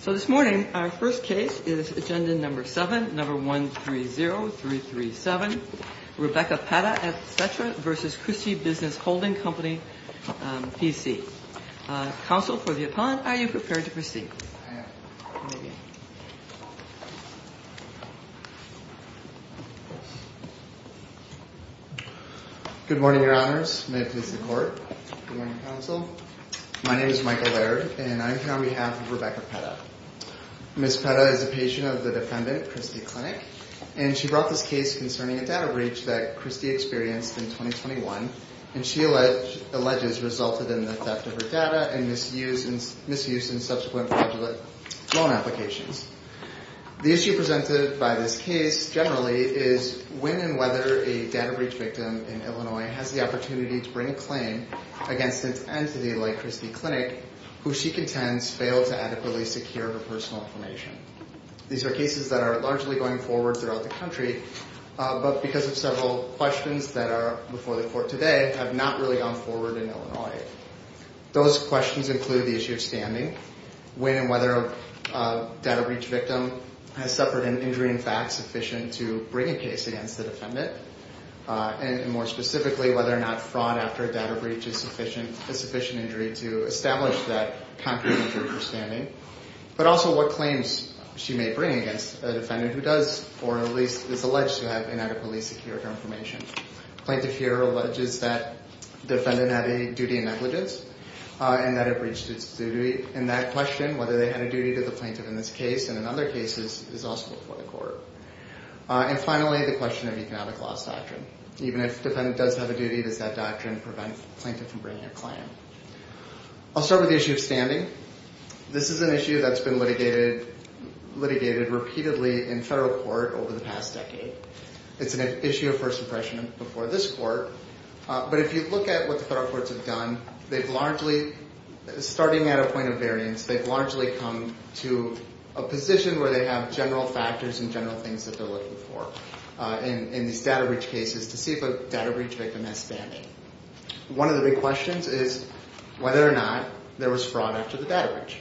So this morning, our first case is Agenda No. 7, No. 130337, Rebecca Pata, etc. v. Christie Business Holding Company, PC. Counsel for the appellant, are you prepared to proceed? I am. Good morning, Your Honors. May it please the Court. Good morning, Counsel. My name is Michael Laird, and I am here on behalf of Rebecca Pata. Ms. Pata is a patient of the defendant, Christie Clinic, and she brought this case concerning a data breach that Christie experienced in 2021, and she alleges resulted in the theft of her data and misuse in subsequent fraudulent loan applications. The issue presented by this case generally is when and whether a data breach victim in Illinois has the opportunity to bring a claim against an entity like Christie Clinic, who she contends failed to adequately secure her personal information. These are cases that are largely going forward throughout the country, but because of several questions that are before the Court today, have not really gone forward in Illinois. Those questions include the issue of standing, when and whether a data breach victim has suffered an injury in fact sufficient to bring a case against the defendant, and more specifically, whether or not fraud after a data breach is sufficient injury to establish that concrete injury for standing, but also what claims she may bring against a defendant who does or at least is alleged to have inadequately secured her information. Plaintiff here alleges that defendant had a duty and negligence and that it breached its duty, and that question, whether they had a duty to the plaintiff in this case and in other cases, is also before the Court. And finally, the question of economic loss doctrine. Even if defendant does have a duty, does that doctrine prevent plaintiff from bringing a claim? I'll start with the issue of standing. This is an issue that's been litigated repeatedly in federal court over the past decade. It's an issue of first impression before this Court, but if you look at what the federal courts have done, they've largely, starting at a point of variance, they've largely come to a position where they have general factors and general things that they're looking for in these data breach cases to see if a data breach victim has standing. One of the big questions is whether or not there was fraud after the data breach.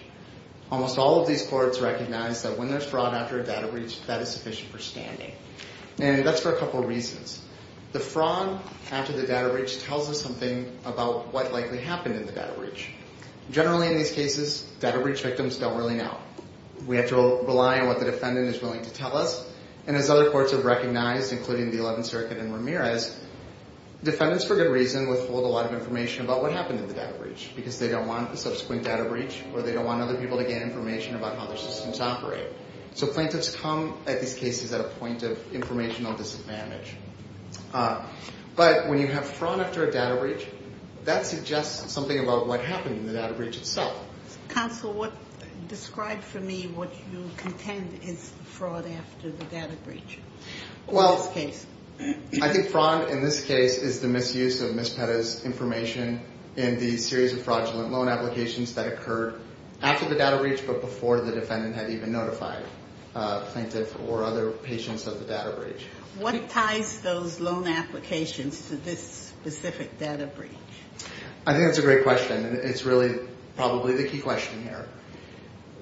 Almost all of these courts recognize that when there's fraud after a data breach, that is sufficient for standing. And that's for a couple of reasons. The fraud after the data breach tells us something about what likely happened in the data breach. Generally, in these cases, data breach victims don't really know. We have to rely on what the defendant is willing to tell us. And as other courts have recognized, including the Eleventh Circuit and Ramirez, defendants, for good reason, withhold a lot of information about what happened in the data breach because they don't want a subsequent data breach or they don't want other people to gain information about how their systems operate. So plaintiffs come at these cases at a point of informational disadvantage. But when you have fraud after a data breach, that suggests something about what happened in the data breach itself. Counsel, describe for me what you contend is the fraud after the data breach in this case. Well, I think fraud in this case is the misuse of Ms. Petta's information in the series of fraudulent loan applications that occurred after the data breach but before the defendant had even notified a plaintiff or other patients of the data breach. What ties those loan applications to this specific data breach? I think that's a great question, and it's really probably the key question here.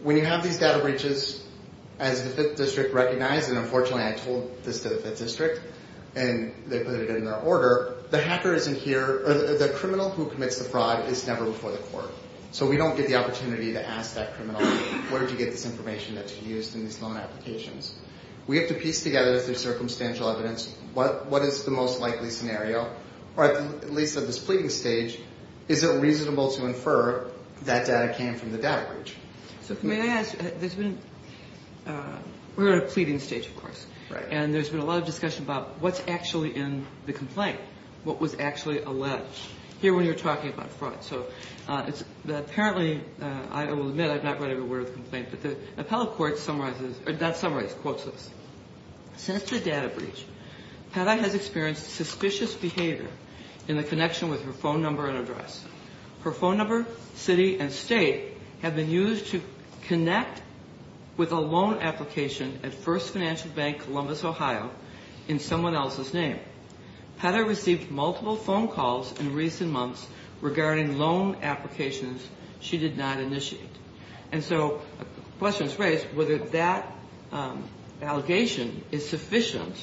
When you have these data breaches, as the Fifth District recognized, and unfortunately I told this to the Fifth District and they put it in their order, the hacker isn't here, or the criminal who commits the fraud is never before the court. So we don't get the opportunity to ask that criminal, where did you get this information that you used in these loan applications? We have to piece together through circumstantial evidence what is the most likely scenario, or at least at this pleading stage, is it reasonable to infer that data came from the data breach? So may I ask, there's been, we're at a pleading stage, of course. And there's been a lot of discussion about what's actually in the complaint, what was actually alleged here when you're talking about fraud. So apparently, I will admit I've not read every word of the complaint, but the appellate court summarizes, or not summarizes, quotes this. Since the data breach, Petta has experienced suspicious behavior in the connection with her phone number and address. Her phone number, city, and state have been used to connect with a loan application at First Financial Bank Columbus, Ohio, in someone else's name. Petta received multiple phone calls in recent months regarding loan applications she did not initiate. And so the question is raised whether that allegation is sufficient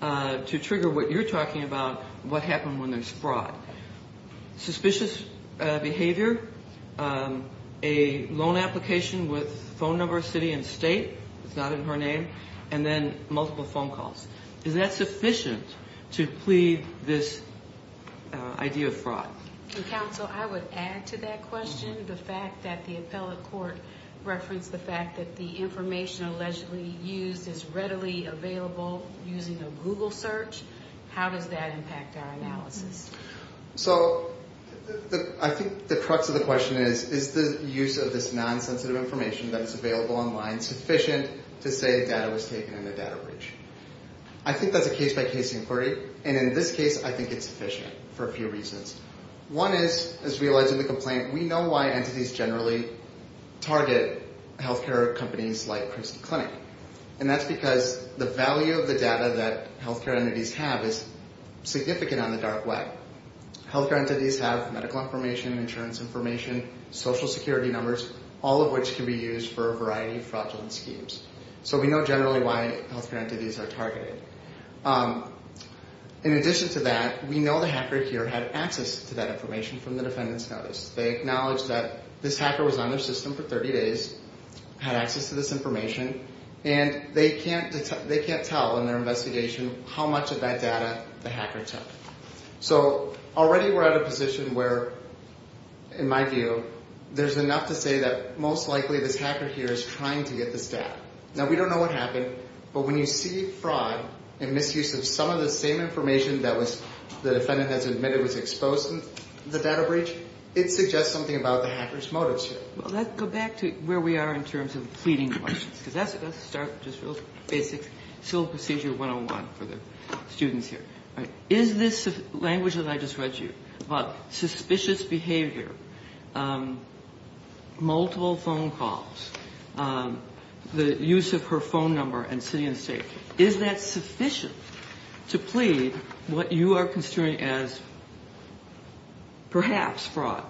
to trigger what you're talking about, what happened when there's fraud. Suspicious behavior, a loan application with phone number, city, and state, it's not in her name, and then multiple phone calls. Is that sufficient to plead this idea of fraud? Counsel, I would add to that question the fact that the appellate court referenced the fact that the information allegedly used is readily available using a Google search. How does that impact our analysis? So I think the crux of the question is, is the use of this non-sensitive information that is available online sufficient to say data was taken in a data breach? I think that's a case-by-case inquiry, and in this case, I think it's sufficient for a few reasons. One is, as we allege in the complaint, we know why entities generally target healthcare companies like Princeton Clinic. And that's because the value of the data that healthcare entities have is significant on the dark web. Healthcare entities have medical information, insurance information, social security numbers, all of which can be used for a variety of fraudulent schemes. So we know generally why healthcare entities are targeted. In addition to that, we know the hacker here had access to that information from the defendant's notice. They acknowledged that this hacker was on their system for 30 days, had access to this information, and they can't tell in their investigation how much of that data the hacker took. So already we're at a position where, in my view, there's enough to say that most likely this hacker here is trying to get this data. Now, we don't know what happened, but when you see fraud and misuse of some of the same information that the defendant has admitted was exposed in the data breach, it suggests something about the hacker's motives here. Kagan. Well, let's go back to where we are in terms of pleading questions, because that's a good start, just real basic civil procedure 101 for the students here. Is this language that I just read to you about suspicious behavior, multiple phone calls, the use of her phone number and city and state, is that sufficient to plead what you are considering as perhaps fraud?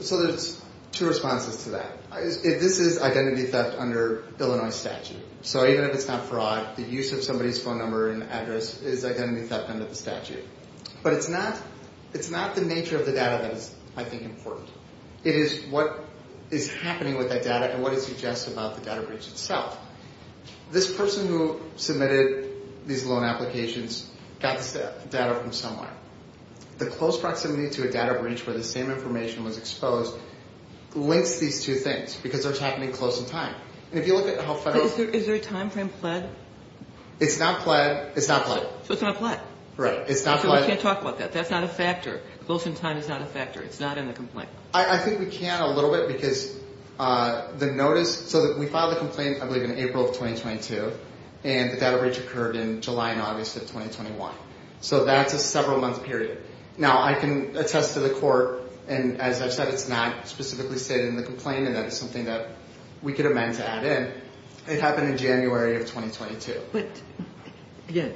So there's two responses to that. This is identity theft under Illinois statute. So even if it's not fraud, the use of somebody's phone number and address is identity theft under the statute. But it's not the nature of the data that is, I think, important. It is what is happening with that data and what it suggests about the data breach itself. This person who submitted these loan applications got this data from someone. The close proximity to a data breach where the same information was exposed links these two things, because they're happening close in time. And if you look at how federal. Is there a timeframe pled? It's not pled. It's not pled. So it's not pled. Right. It's not pled. So we can't talk about that. That's not a factor. Close in time is not a factor. It's not in the complaint. I think we can a little bit because the notice so that we filed a complaint, I believe, in April of twenty twenty two. And the data breach occurred in July and August of twenty twenty one. So that's a several month period. Now I can attest to the court. And as I said, it's not specifically stated in the complaint. And that is something that we could amend to add in. It happened in January of twenty twenty two. But again,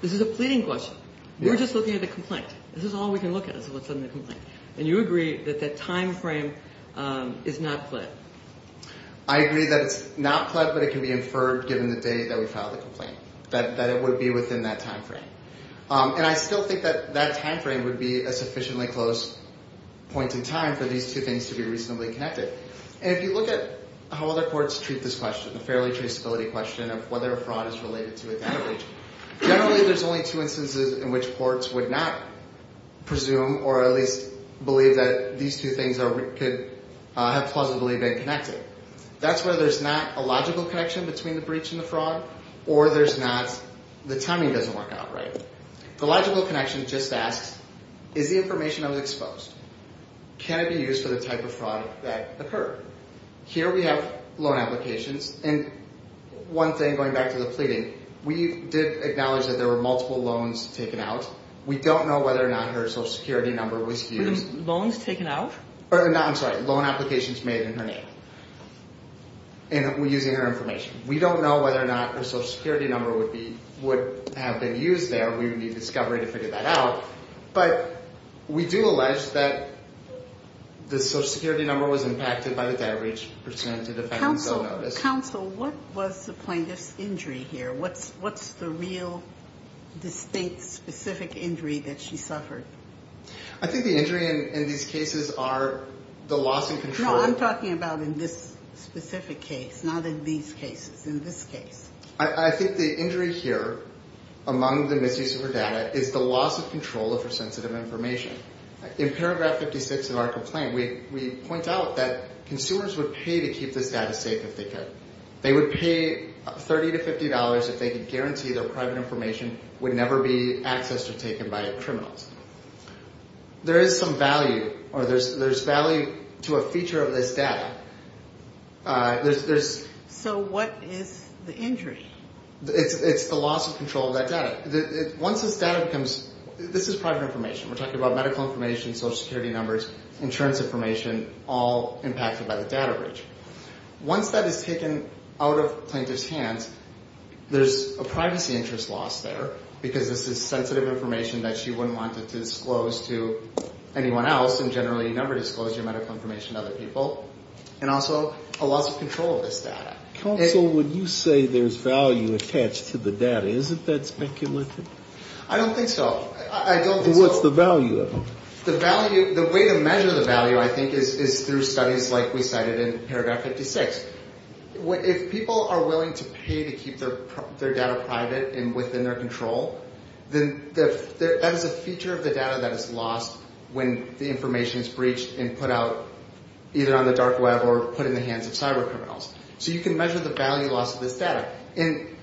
this is a pleading question. We're just looking at the complaint. This is all we can look at is what's in the complaint. And you agree that that time frame is not pled. I agree that it's not pled, but it can be inferred given the date that we filed the complaint, that it would be within that time frame. And I still think that that time frame would be a sufficiently close point in time for these two things to be reasonably connected. And if you look at how other courts treat this question, the fairly traceability question of whether a fraud is related to a data breach. Generally, there's only two instances in which courts would not presume or at least believe that these two things could have plausibly been connected. That's where there's not a logical connection between the breach and the fraud or there's not the timing doesn't work out right. The logical connection just asks, is the information that was exposed, can it be used for the type of fraud that occurred? Here we have loan applications. And one thing going back to the pleading. We did acknowledge that there were multiple loans taken out. We don't know whether or not her social security number was used. Loans taken out? I'm sorry, loan applications made in her name. And we're using her information. We don't know whether or not her social security number would have been used there. We would need discovery to figure that out. But we do allege that the social security number was impacted by the data breach pursuant to the federal notice. Counsel, what was the plaintiff's injury here? What's the real, distinct, specific injury that she suffered? I think the injury in these cases are the loss of control. No, I'm talking about in this specific case, not in these cases, in this case. I think the injury here among the misuse of her data is the loss of control of her sensitive information. In paragraph 56 of our complaint, we point out that consumers would pay to keep this data safe if they could. They would pay $30 to $50 if they could guarantee their private information would never be accessed or taken by criminals. There is some value, or there's value to a feature of this data. So what is the injury? It's the loss of control of that data. This is private information. We're talking about medical information, social security numbers, insurance information, all impacted by the data breach. Once that is taken out of plaintiff's hands, there's a privacy interest loss there, because this is sensitive information that she wouldn't want to disclose to anyone else, and generally you never disclose your medical information to other people, and also a loss of control of this data. Counsel, when you say there's value attached to the data, isn't that speculative? I don't think so. What's the value of it? The way to measure the value, I think, is through studies like we cited in paragraph 56. If people are willing to pay to keep their data private and within their control, then that is a feature of the data that is lost when the information is breached and put out either on the dark web or put in the hands of cybercriminals. So you can measure the value loss of this data, and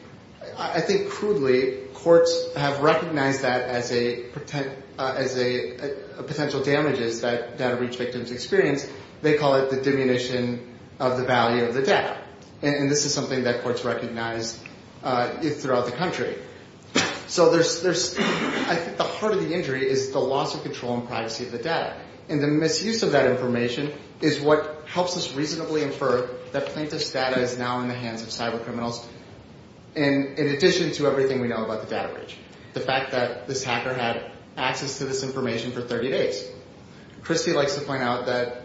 I think crudely, courts have recognized that as a potential damages that data breach victims experience. They call it the diminution of the value of the data, and this is something that courts recognize throughout the country. So I think the heart of the injury is the loss of control and privacy of the data, and the misuse of that information is what helps us reasonably infer that plaintiff's data is now in the hands of cybercriminals, in addition to everything we know about the data breach. The fact that this hacker had access to this information for 30 days. Christy likes to point out that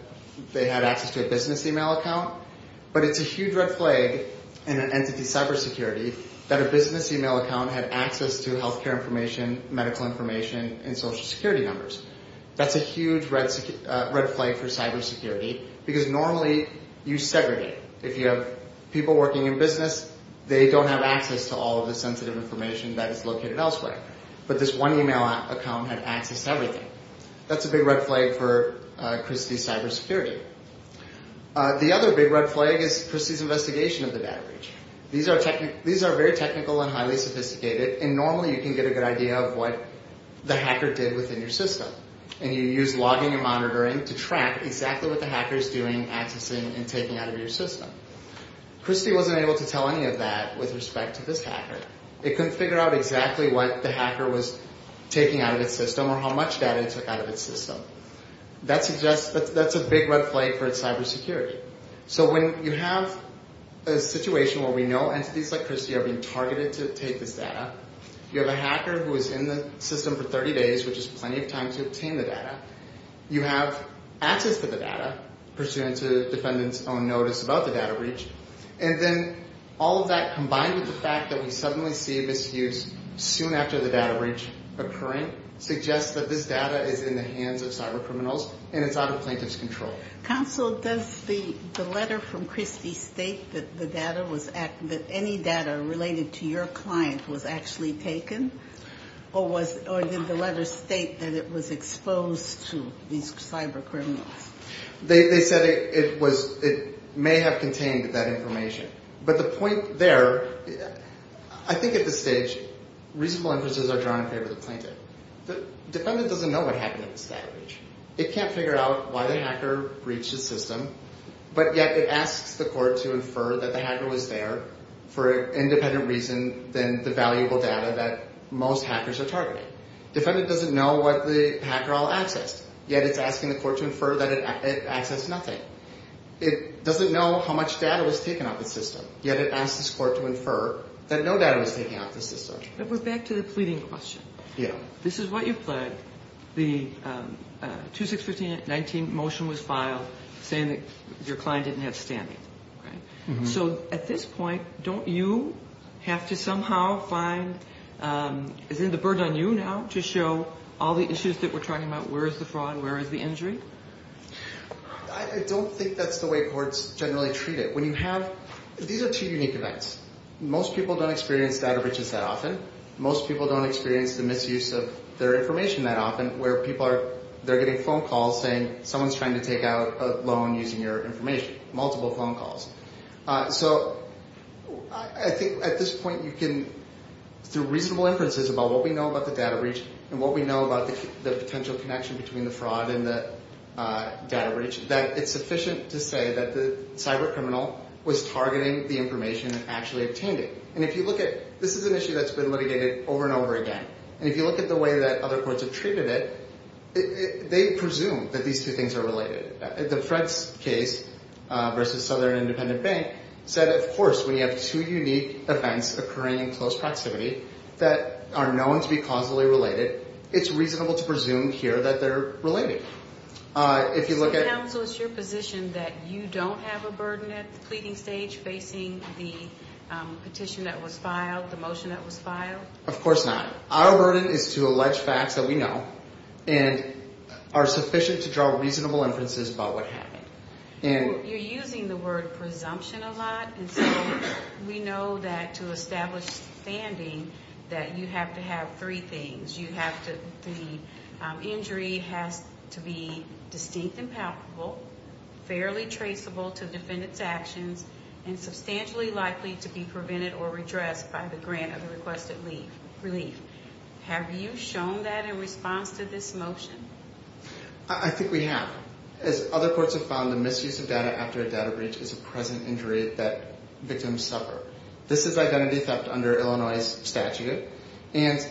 they had access to a business email account, but it's a huge red flag in an entity's cybersecurity that a business email account had access to healthcare information, medical information, and social security numbers. That's a huge red flag for cybersecurity, because normally you segregate. If you have people working in business, they don't have access to all of the sensitive information that is located elsewhere, but this one email account had access to everything. That's a big red flag for Christy's cybersecurity. The other big red flag is Christy's investigation of the data breach. These are very technical and highly sophisticated, and normally you can get a good idea of what the hacker did within your system, and you use logging and monitoring to track exactly what the hacker is doing, accessing, and taking out of your system. Christy wasn't able to tell any of that with respect to this hacker. It couldn't figure out exactly what the hacker was taking out of its system or how much data it took out of its system. That's a big red flag for cybersecurity. When you have a situation where we know entities like Christy are being targeted to take this data, you have a hacker who is in the system for 30 days, which is plenty of time to obtain the data, you have access to the data, pursuant to the defendant's own notice about the data breach, and then all of that combined with the fact that we suddenly see misuse soon after the data breach occurring suggests that this data is in the hands of cybercriminals and it's out of plaintiff's control. Counsel, does the letter from Christy state that any data related to your client was actually taken, or did the letter state that it was exposed to these cybercriminals? They said it may have contained that information. But the point there, I think at this stage reasonable inferences are drawn in favor of the plaintiff. The defendant doesn't know what happened at this data breach. It can't figure out why the hacker breached the system, but yet it asks the court to infer that the hacker was there for an independent reason than the valuable data that most hackers are targeting. Defendant doesn't know what the hacker all accessed, yet it's asking the court to infer that it accessed nothing. It doesn't know how much data was taken off the system, yet it asks this court to infer that no data was taken off the system. But we're back to the pleading question. This is what you pled. The 2615-19 motion was filed saying that your client didn't have standing. So at this point, don't you have to somehow find, is it the burden on you now to show all the issues that we're talking about? Where is the fraud and where is the injury? I don't think that's the way courts generally treat it. When you have, these are two unique events. Most people don't experience data breaches that often. Most people don't experience the misuse of their information that often, where people are, they're getting phone calls saying someone's trying to take out a loan using your information, multiple phone calls. So I think at this point you can, through reasonable inferences about what we know about the data breach and what we know about the potential connection between the fraud and the data breach, that it's sufficient to say that the cyber criminal was targeting the information and actually obtained it. And if you look at, this is an issue that's been litigated over and over again. And if you look at the way that other courts have treated it, they presume that these two things are related. The Fred's case versus Southern Independent Bank said, of course, we have two unique events occurring in close proximity that are known to be causally related. It's reasonable to presume here that they're related. If you look at- So counsel, is it your position that you don't have a burden at the pleading stage facing the petition that was filed, the motion that was filed? Of course not. Our burden is to allege facts that we know and are sufficient to draw reasonable inferences about what happened. You're using the word presumption a lot. And so we know that to establish standing that you have to have three things. You have to- the injury has to be distinct and palpable, fairly traceable to defendant's actions, and substantially likely to be prevented or redressed by the grant of the requested relief. Have you shown that in response to this motion? I think we have. As other courts have found, the misuse of data after a data breach is a present injury that victims suffer. This is identity theft under Illinois' statute, and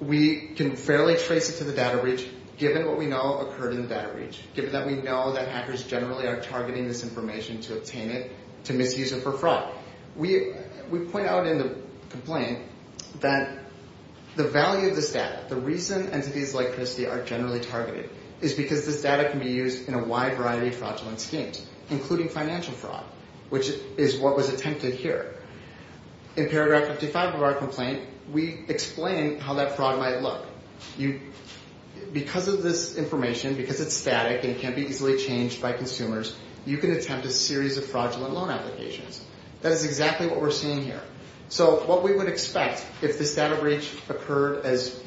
we can fairly trace it to the data breach given what we know occurred in the data breach, given that we know that hackers generally are targeting this information to obtain it, to misuse it for fraud. We point out in the complaint that the value of this data, the reason entities like Christie are generally targeted, is because this data can be used in a wide variety of fraudulent schemes, including financial fraud, which is what was attempted here. In paragraph 55 of our complaint, we explain how that fraud might look. Because of this information, because it's static and can be easily changed by consumers, you can attempt a series of fraudulent loan applications. That is exactly what we're seeing here. So what we would expect, if this data breach occurred as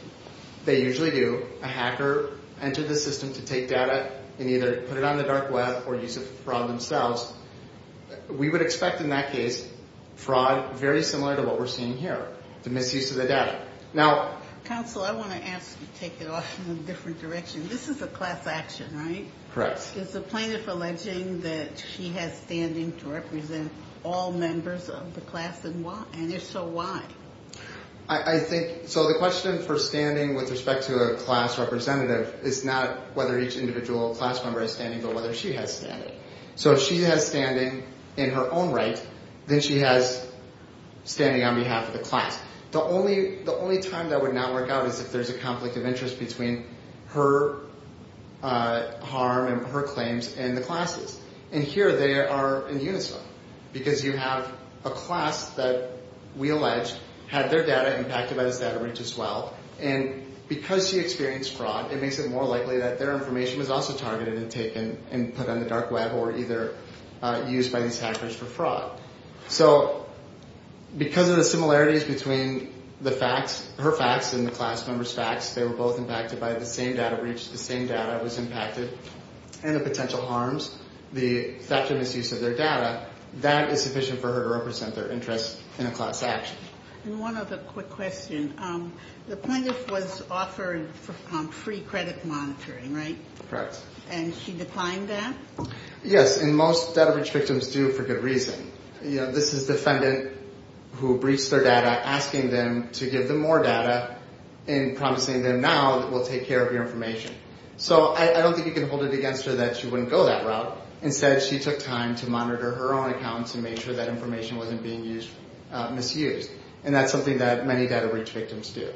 they usually do, a hacker entered the system to take data and either put it on the dark web or use it for fraud themselves, we would expect in that case fraud very similar to what we're seeing here, the misuse of the data. Counsel, I want to ask you to take it off in a different direction. This is a class action, right? Correct. Is the plaintiff alleging that she has standing to represent all members of the class, and if so, why? I think, so the question for standing with respect to a class representative is not whether each individual class member is standing, but whether she has standing. So if she has standing in her own right, then she has standing on behalf of the class. The only time that would not work out is if there's a conflict of interest between her harm and her claims and the classes. And here they are in unison, because you have a class that we allege had their data impacted by this data breach as well, and because she experienced fraud, it makes it more likely that their information was also targeted and taken and put on the dark web or either used by these hackers for fraud. So because of the similarities between the facts, her facts and the class members' facts, they were both impacted by the same data breach, the same data was impacted, and the potential harms, the fact of misuse of their data, that is sufficient for her to represent their interest in a class action. And one other quick question. The plaintiff was offered free credit monitoring, right? Correct. And she declined that? Yes, and most data breach victims do for good reason. You know, this is defendant who breached their data asking them to give them more data and promising them now that we'll take care of your information. So I don't think you can hold it against her that she wouldn't go that route. Instead, she took time to monitor her own account to make sure that information wasn't being misused, and that's something that many data breach victims do.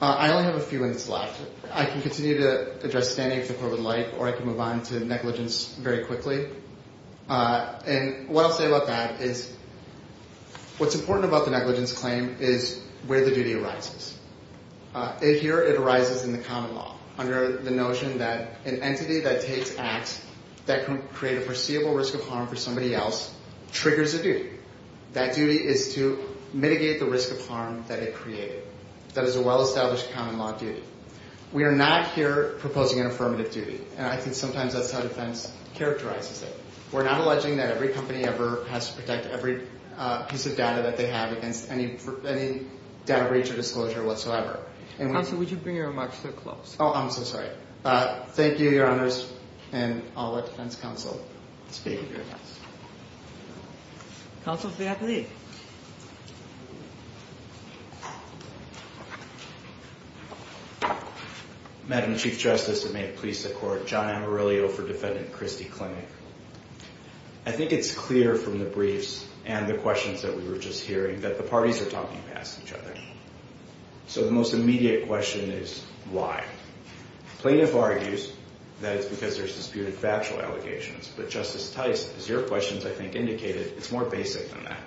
I only have a few minutes left. I can continue to address standing for the court would like, or I can move on to negligence very quickly. And what I'll say about that is what's important about the negligence claim is where the duty arises. Here it arises in the common law under the notion that an entity that takes acts that can create a perceivable risk of harm for somebody else triggers a duty. That duty is to mitigate the risk of harm that it created. That is a well-established common law duty. We are not here proposing an affirmative duty, and I think sometimes that's how defense characterizes it. We're not alleging that every company ever has to protect every piece of data that they have against any data breach or disclosure whatsoever. Counsel, would you bring your remarks to a close? Oh, I'm so sorry. All right. Thank you, Your Honors, and I'll let defense counsel speak. Counsel, please. Madam Chief Justice, and may it please the Court, John Amarillo for Defendant Christie Clinic. I think it's clear from the briefs and the questions that we were just hearing that the parties are talking past each other. So the most immediate question is why? Plaintiff argues that it's because there's disputed factual allegations, but Justice Tice, as your questions, I think, indicated, it's more basic than that.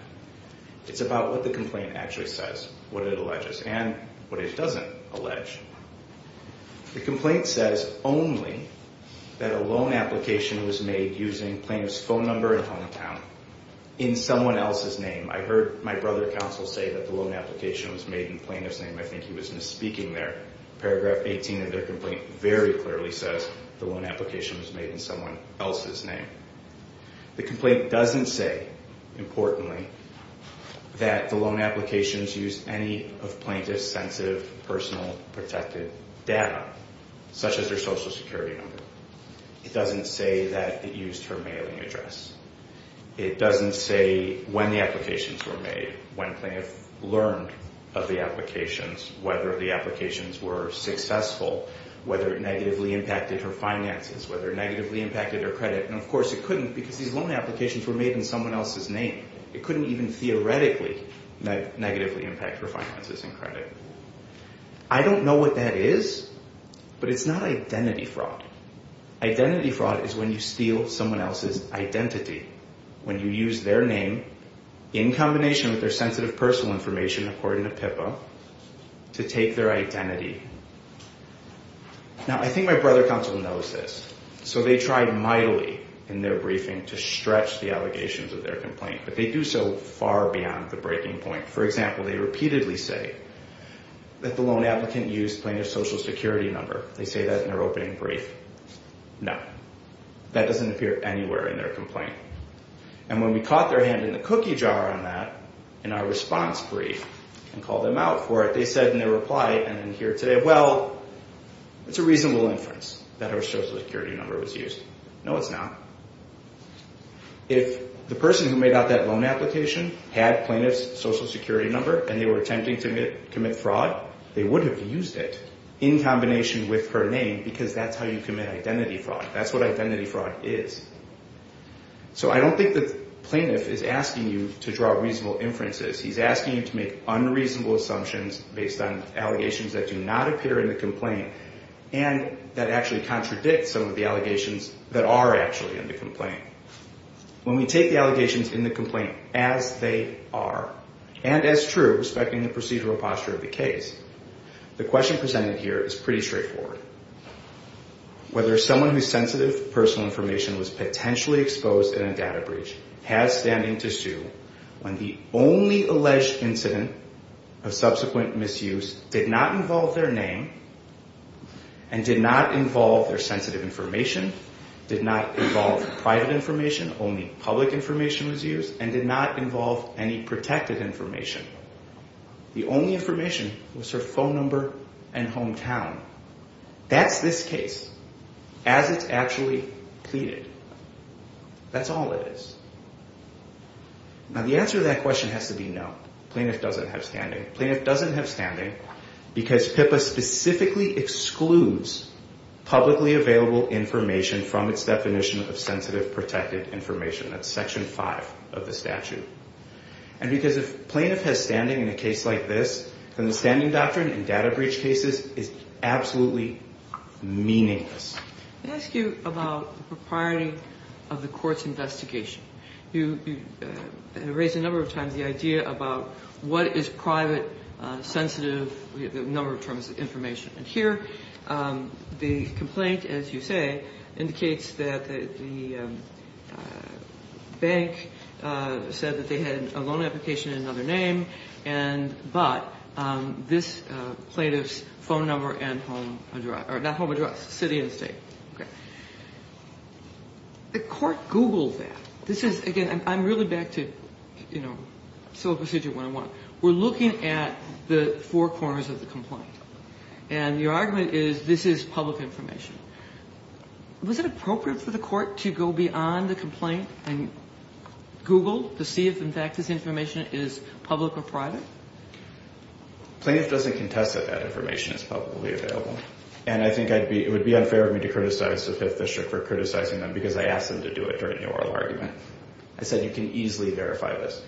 It's about what the complaint actually says, what it alleges, and what it doesn't allege. The complaint says only that a loan application was made using plaintiff's phone number and hometown in someone else's name. I heard my brother counsel say that the loan application was made in plaintiff's name. I think he was misspeaking there. Paragraph 18 of their complaint very clearly says the loan application was made in someone else's name. The complaint doesn't say, importantly, that the loan applications used any of plaintiff's sensitive, personal, protected data, such as their Social Security number. It doesn't say that it used her mailing address. It doesn't say when the applications were made, when plaintiff learned of the applications, whether the applications were successful, whether it negatively impacted her finances, whether it negatively impacted her credit. And, of course, it couldn't because these loan applications were made in someone else's name. It couldn't even theoretically negatively impact her finances and credit. I don't know what that is, but it's not identity fraud. Identity fraud is when you steal someone else's identity. When you use their name in combination with their sensitive, personal information, according to PIPA, to take their identity. Now, I think my brother counsel knows this. So they tried mightily in their briefing to stretch the allegations of their complaint, but they do so far beyond the breaking point. For example, they repeatedly say that the loan applicant used plaintiff's Social Security number. They say that in their opening brief. No. That doesn't appear anywhere in their complaint. And when we caught their hand in the cookie jar on that, in our response brief, and called them out for it, they said in their reply, and then here today, well, it's a reasonable inference that her Social Security number was used. No, it's not. If the person who made out that loan application had plaintiff's Social Security number and they were attempting to commit fraud, they would have used it in combination with her name because that's how you commit identity fraud. That's what identity fraud is. So I don't think the plaintiff is asking you to draw reasonable inferences. He's asking you to make unreasonable assumptions based on allegations that do not appear in the complaint and that actually contradict some of the allegations that are actually in the complaint. When we take the allegations in the complaint as they are, and as true, respecting the procedural posture of the case, the question presented here is pretty straightforward. Whether someone whose sensitive personal information was potentially exposed in a data breach has standing to sue when the only alleged incident of subsequent misuse did not involve their name and did not involve their sensitive information, did not involve private information, only public information was used, and did not involve any protected information. The only information was her phone number and hometown. That's this case as it's actually pleaded. That's all it is. Now the answer to that question has to be no. The plaintiff doesn't have standing. The plaintiff doesn't have standing because PIPA specifically excludes publicly available information from its definition of sensitive protected information. That's Section 5 of the statute. And because if plaintiff has standing in a case like this, then the standing doctrine in data breach cases is absolutely meaningless. Let me ask you about the propriety of the court's investigation. You raised a number of times the idea about what is private, sensitive, the number of terms of information. And here the complaint, as you say, indicates that the bank said that they had a loan application in another name, but this plaintiff's phone number and home address, or not home address, city and state. Okay. The court Googled that. This is, again, I'm really back to civil procedure 101. We're looking at the four corners of the complaint. And your argument is this is public information. Was it appropriate for the court to go beyond the complaint and Google to see if, in fact, this information is public or private? Plaintiff doesn't contest that that information is publicly available. And I think it would be unfair of me to criticize the Fifth District for criticizing them because I asked them to do it during the oral argument. I said you can easily verify this.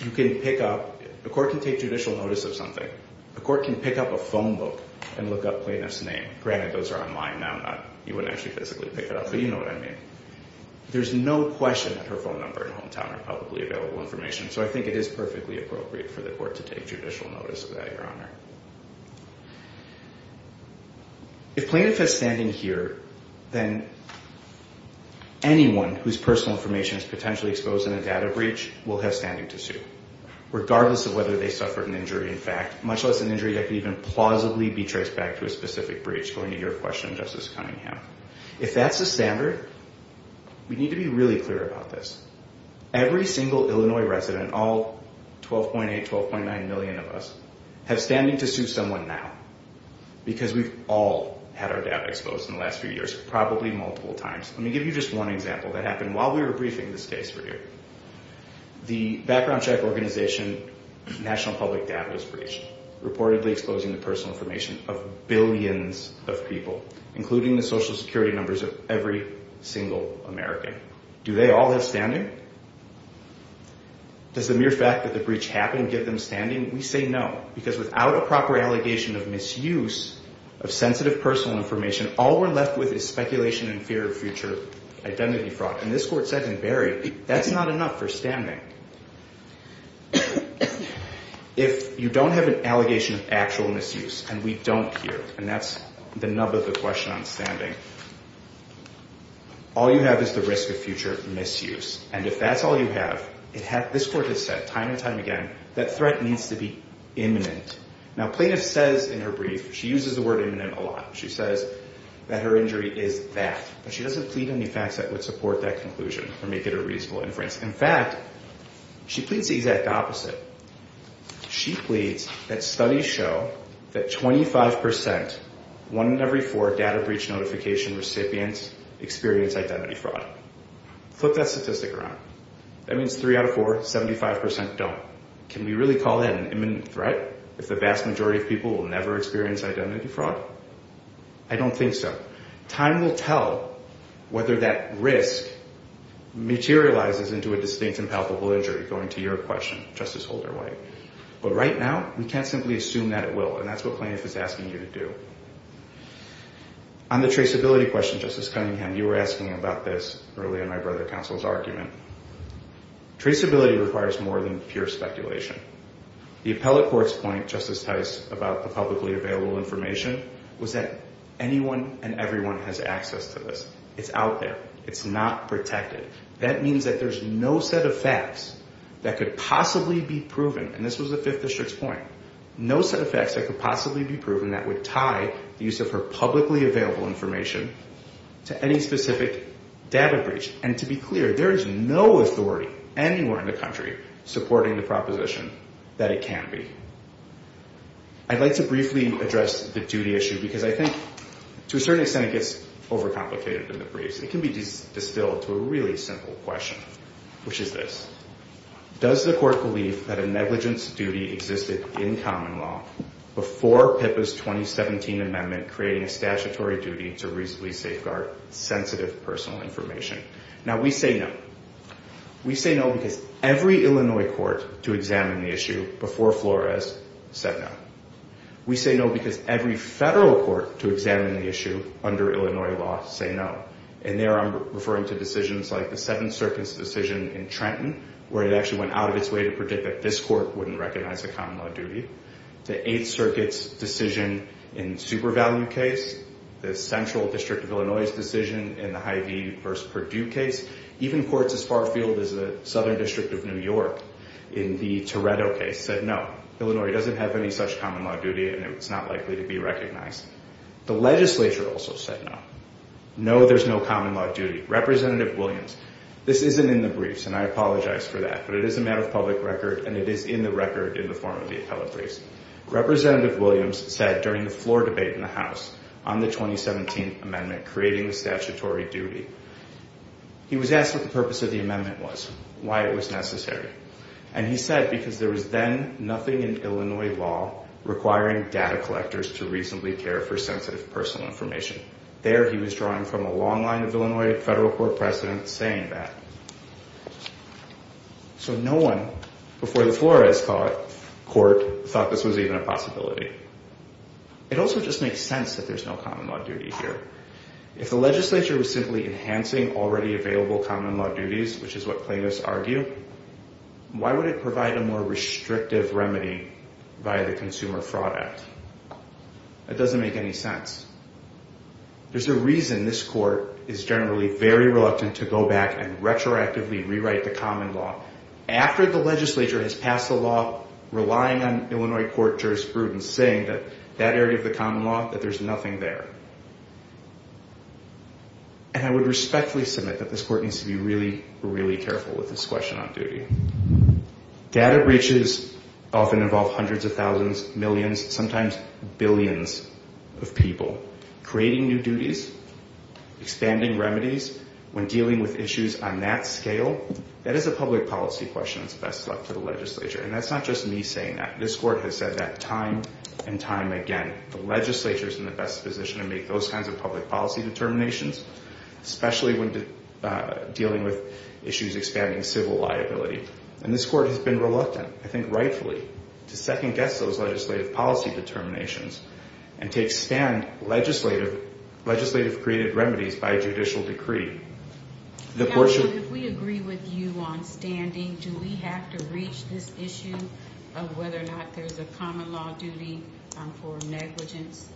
You can pick up the court can take judicial notice of something. The court can pick up a phone book and look up plaintiff's name. Granted, those are online now. You wouldn't actually physically pick it up, but you know what I mean. There's no question that her phone number and hometown are publicly available information, so I think it is perfectly appropriate for the court to take judicial notice of that, Your Honor. If plaintiff is standing here, then anyone whose personal information is potentially exposed in a data breach will have standing to sue. Regardless of whether they suffered an injury, in fact, much less an injury that could even plausibly be traced back to a specific breach, going to your question, Justice Cunningham. If that's the standard, we need to be really clear about this. Every single Illinois resident, all 12.8, 12.9 million of us, have standing to sue someone now because we've all had our data exposed in the last few years, probably multiple times. Let me give you just one example that happened while we were briefing this case for you. The background check organization National Public Data was breached, reportedly exposing the personal information of billions of people, including the social security numbers of every single American. Do they all have standing? Does the mere fact that the breach happened give them standing? We say no, because without a proper allegation of misuse of sensitive personal information, all we're left with is speculation and fear of future identity fraud. And this court said in Barry, that's not enough for standing. If you don't have an allegation of actual misuse, and we don't here, and that's the nub of the question on standing, all you have is the risk of future misuse. And if that's all you have, this court has said time and time again, that threat needs to be imminent. Now plaintiff says in her brief, she uses the word imminent a lot, she says that her injury is that. But she doesn't plead any facts that would support that conclusion or make it a reasonable inference. In fact, she pleads the exact opposite. She pleads that studies show that 25%, one in every four data breach notification recipients, experience identity fraud. Flip that statistic around. That means three out of four, 75% don't. Can we really call that an imminent threat, if the vast majority of people will never experience identity fraud? I don't think so. Time will tell whether that risk materializes into a distinct and palpable injury, going to your question, Justice Holder-White. But right now, we can't simply assume that it will, and that's what plaintiff is asking you to do. On the traceability question, Justice Cunningham, you were asking about this earlier in my brother counsel's argument. Traceability requires more than pure speculation. The appellate court's point, Justice Tice, about the publicly available information, was that anyone and everyone has access to this. It's out there. It's not protected. That means that there's no set of facts that could possibly be proven, and this was the Fifth District's point, no set of facts that could possibly be proven that would tie the use of her publicly available information to any specific data breach. And to be clear, there is no authority anywhere in the country supporting the proposition that it can be. I'd like to briefly address the duty issue because I think to a certain extent it gets overcomplicated in the briefs. It can be distilled to a really simple question, which is this. Does the court believe that a negligence duty existed in common law before PIPA's 2017 amendment creating a statutory duty to reasonably safeguard sensitive personal information? Now, we say no. We say no because every Illinois court to examine the issue before Flores said no. We say no because every federal court to examine the issue under Illinois law said no, and there I'm referring to decisions like the Seventh Circuit's decision in Trenton where it actually went out of its way to predict that this court wouldn't recognize a common law duty, the Eighth Circuit's decision in Supervalue case, the Central District of Illinois' decision in the Hy-Vee v. Perdue case, even courts as far afield as the Southern District of New York in the Toretto case said no, Illinois doesn't have any such common law duty and it's not likely to be recognized. The legislature also said no. No, there's no common law duty. Representative Williams, this isn't in the briefs and I apologize for that, but it is a matter of public record and it is in the record in the form of the appellate briefs. Representative Williams said during the floor debate in the House on the 2017 amendment creating the statutory duty, he was asked what the purpose of the amendment was, why it was necessary, and he said because there was then nothing in Illinois law requiring data collectors to reasonably care for sensitive personal information. There he was drawing from a long line of Illinois federal court presidents saying that. So no one before the Flores Court thought this was even a possibility. It also just makes sense that there's no common law duty here. If the legislature was simply enhancing already available common law duties, which is what plaintiffs argue, why would it provide a more restrictive remedy via the Consumer Fraud Act? That doesn't make any sense. There's a reason this court is generally very reluctant to go back and retroactively rewrite the common law after the legislature has passed a law relying on Illinois court jurisprudence saying that that area of the common law, that there's nothing there. And I would respectfully submit that this court needs to be really, really careful with this question on duty. Data breaches often involve hundreds of thousands, millions, sometimes billions of people. Creating new duties, expanding remedies when dealing with issues on that scale, that is a public policy question that's best left to the legislature, and that's not just me saying that. This court has said that time and time again. The legislature is in the best position to make those kinds of public policy determinations, especially when dealing with issues expanding civil liability. And this court has been reluctant, I think rightfully, to second-guess those legislative policy determinations and to expand legislative created remedies by judicial decree. Counsel, if we agree with you on standing, do we have to reach this issue of whether or not there's a common law duty for negligence?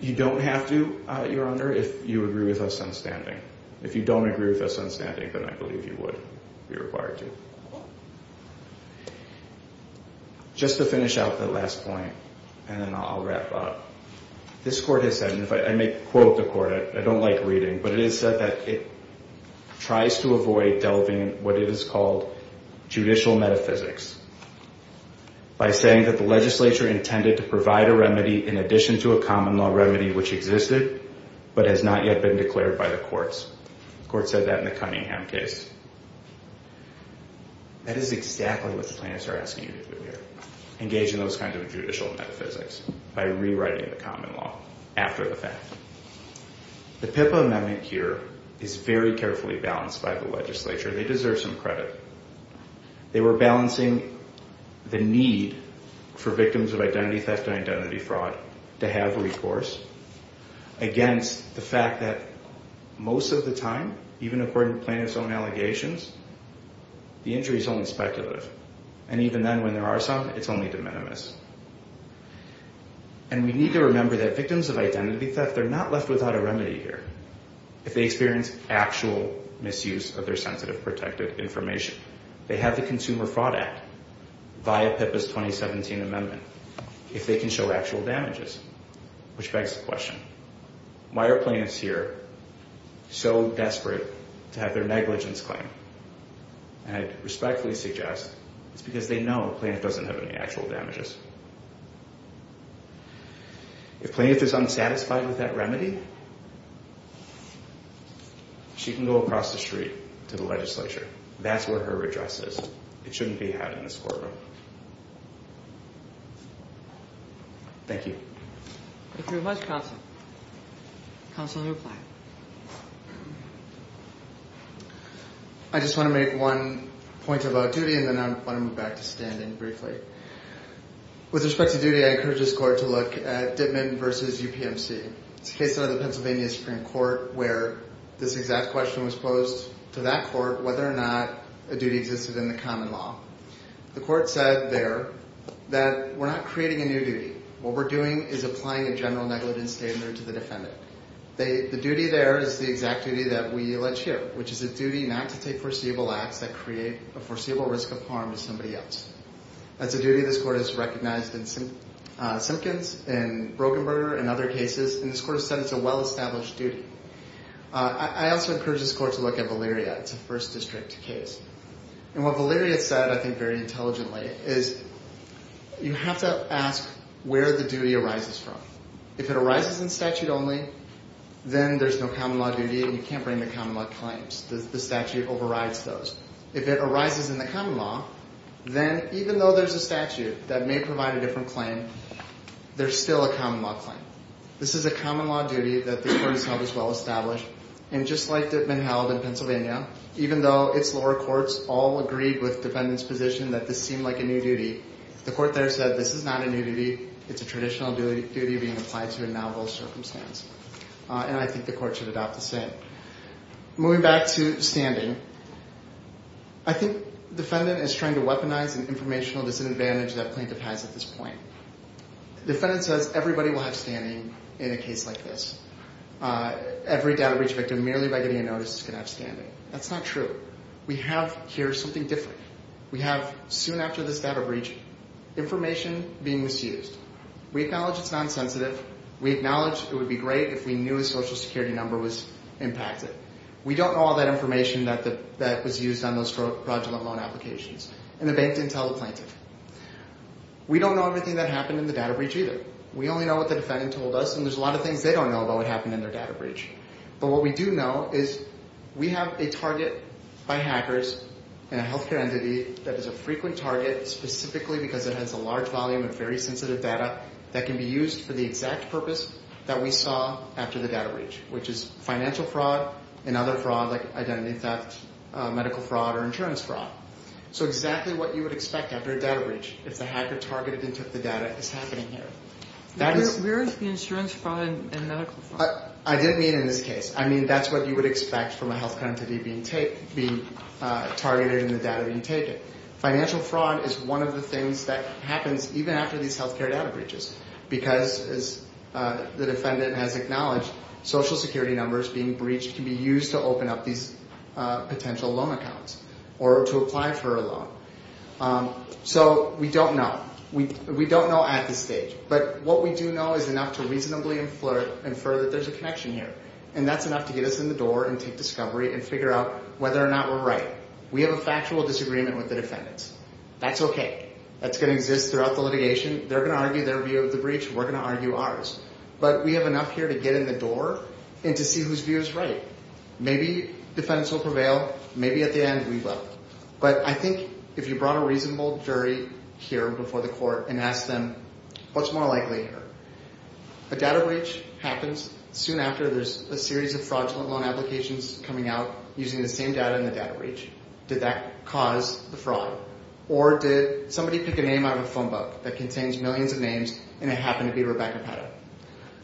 You don't have to, Your Honor, if you agree with us on standing. If you don't agree with us on standing, then I believe you would be required to. Just to finish out that last point, and then I'll wrap up. This court has said, and I may quote the court, I don't like reading, but it is said that it tries to avoid delving in what it is called judicial metaphysics by saying that the legislature intended to provide a remedy in addition to a common law remedy which existed but has not yet been declared by the courts. The court said that in the Cunningham case. That is exactly what the plaintiffs are asking you to do here, engage in those kinds of judicial metaphysics by rewriting the common law after the fact. The PIPA amendment here is very carefully balanced by the legislature. They deserve some credit. They were balancing the need for victims of identity theft and identity fraud to have recourse against the fact that most of the time, even according to plaintiffs' own allegations, the injury is only speculative. And even then, when there are some, it's only de minimis. And we need to remember that victims of identity theft, they're not left without a remedy here. If they experience actual misuse of their sensitive protected information, they have the Consumer Fraud Act via PIPA's 2017 amendment. If they can show actual damages, which begs the question, why are plaintiffs here so desperate to have their negligence claimed? And I respectfully suggest it's because they know a plaintiff doesn't have any actual damages. If a plaintiff is unsatisfied with that remedy, she can go across the street to the legislature. That's where her redress is. It shouldn't be had in this courtroom. Thank you. Thank you very much, counsel. Counsel to reply. I just want to make one point about duty, and then I want to move back to standing briefly. With respect to duty, I encourage this court to look at Dittman v. UPMC. It's a case out of the Pennsylvania Supreme Court where this exact question was posed to that court whether or not a duty existed in the common law. The court said there that we're not creating a new duty. What we're doing is applying a general negligence standard to the defendant. The duty there is the exact duty that we allege here, which is a duty not to take foreseeable acts that create a foreseeable risk of harm to somebody else. That's a duty this court has recognized in Simpkins, in Brockenberger, and other cases, and this court has said it's a well-established duty. I also encourage this court to look at Valeria. It's a First District case. And what Valeria said, I think, very intelligently is you have to ask where the duty arises from. If it arises in statute only, then there's no common law duty, and you can't bring the common law claims. The statute overrides those. If it arises in the common law, then even though there's a statute that may provide a different claim, there's still a common law claim. This is a common law duty that this court has held as well-established, and just like Dittman held in Pennsylvania, even though its lower courts all agreed with the defendant's position that this seemed like a new duty, the court there said this is not a new duty. It's a traditional duty being applied to a novel circumstance, and I think the court should adopt the same. Moving back to standing, I think the defendant is trying to weaponize an informational disadvantage that a plaintiff has at this point. The defendant says everybody will have standing in a case like this. Every data breach victim, merely by getting a notice, is going to have standing. That's not true. We have here something different. We have, soon after this data breach, information being misused. We acknowledge it's nonsensitive. We acknowledge it would be great if we knew a Social Security number was impacted. We don't know all that information that was used on those fraudulent loan applications, and the bank didn't tell the plaintiff. We don't know everything that happened in the data breach either. We only know what the defendant told us, and there's a lot of things they don't know about what happened in their data breach. But what we do know is we have a target by hackers and a health care entity that is a frequent target, specifically because it has a large volume of very sensitive data that can be used for the exact purpose that we saw after the data breach, which is financial fraud and other fraud like identity theft, medical fraud, or insurance fraud. So exactly what you would expect after a data breach, if the hacker targeted and took the data, is happening here. Where is the insurance fraud and medical fraud? I didn't mean in this case. I mean that's what you would expect from a health entity being targeted and the data being taken. Financial fraud is one of the things that happens even after these health care data breaches because, as the defendant has acknowledged, Social Security numbers being breached can be used to open up these potential loan accounts or to apply for a loan. So we don't know. We don't know at this stage. But what we do know is enough to reasonably infer that there's a connection here. And that's enough to get us in the door and take discovery and figure out whether or not we're right. We have a factual disagreement with the defendants. That's okay. That's going to exist throughout the litigation. They're going to argue their view of the breach. We're going to argue ours. But we have enough here to get in the door and to see whose view is right. Maybe defendants will prevail. Maybe at the end we will. But I think if you brought a reasonable jury here before the court and asked them, what's more likely here? A data breach happens soon after there's a series of fraudulent loan applications coming out using the same data in the data breach. Did that cause the fraud? Or did somebody pick a name out of a phone book that contains millions of names, and it happened to be Rebecca Petto?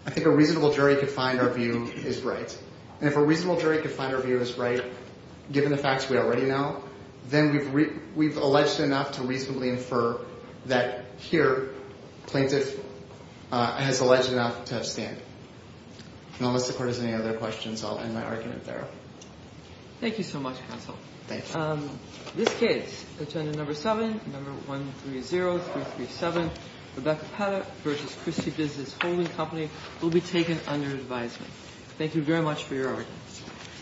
I think a reasonable jury could find our view is right. And if a reasonable jury could find our view is right, given the facts we already know, then we've alleged enough to reasonably infer that here plaintiff has alleged enough to have stand. And unless the court has any other questions, I'll end my argument there. Thank you so much, counsel. Thanks. This case, Attendant Number 7, Number 130337, Rebecca Petto v. Christie Business Holding Company, will be taken under advisement. Thank you very much for your argument.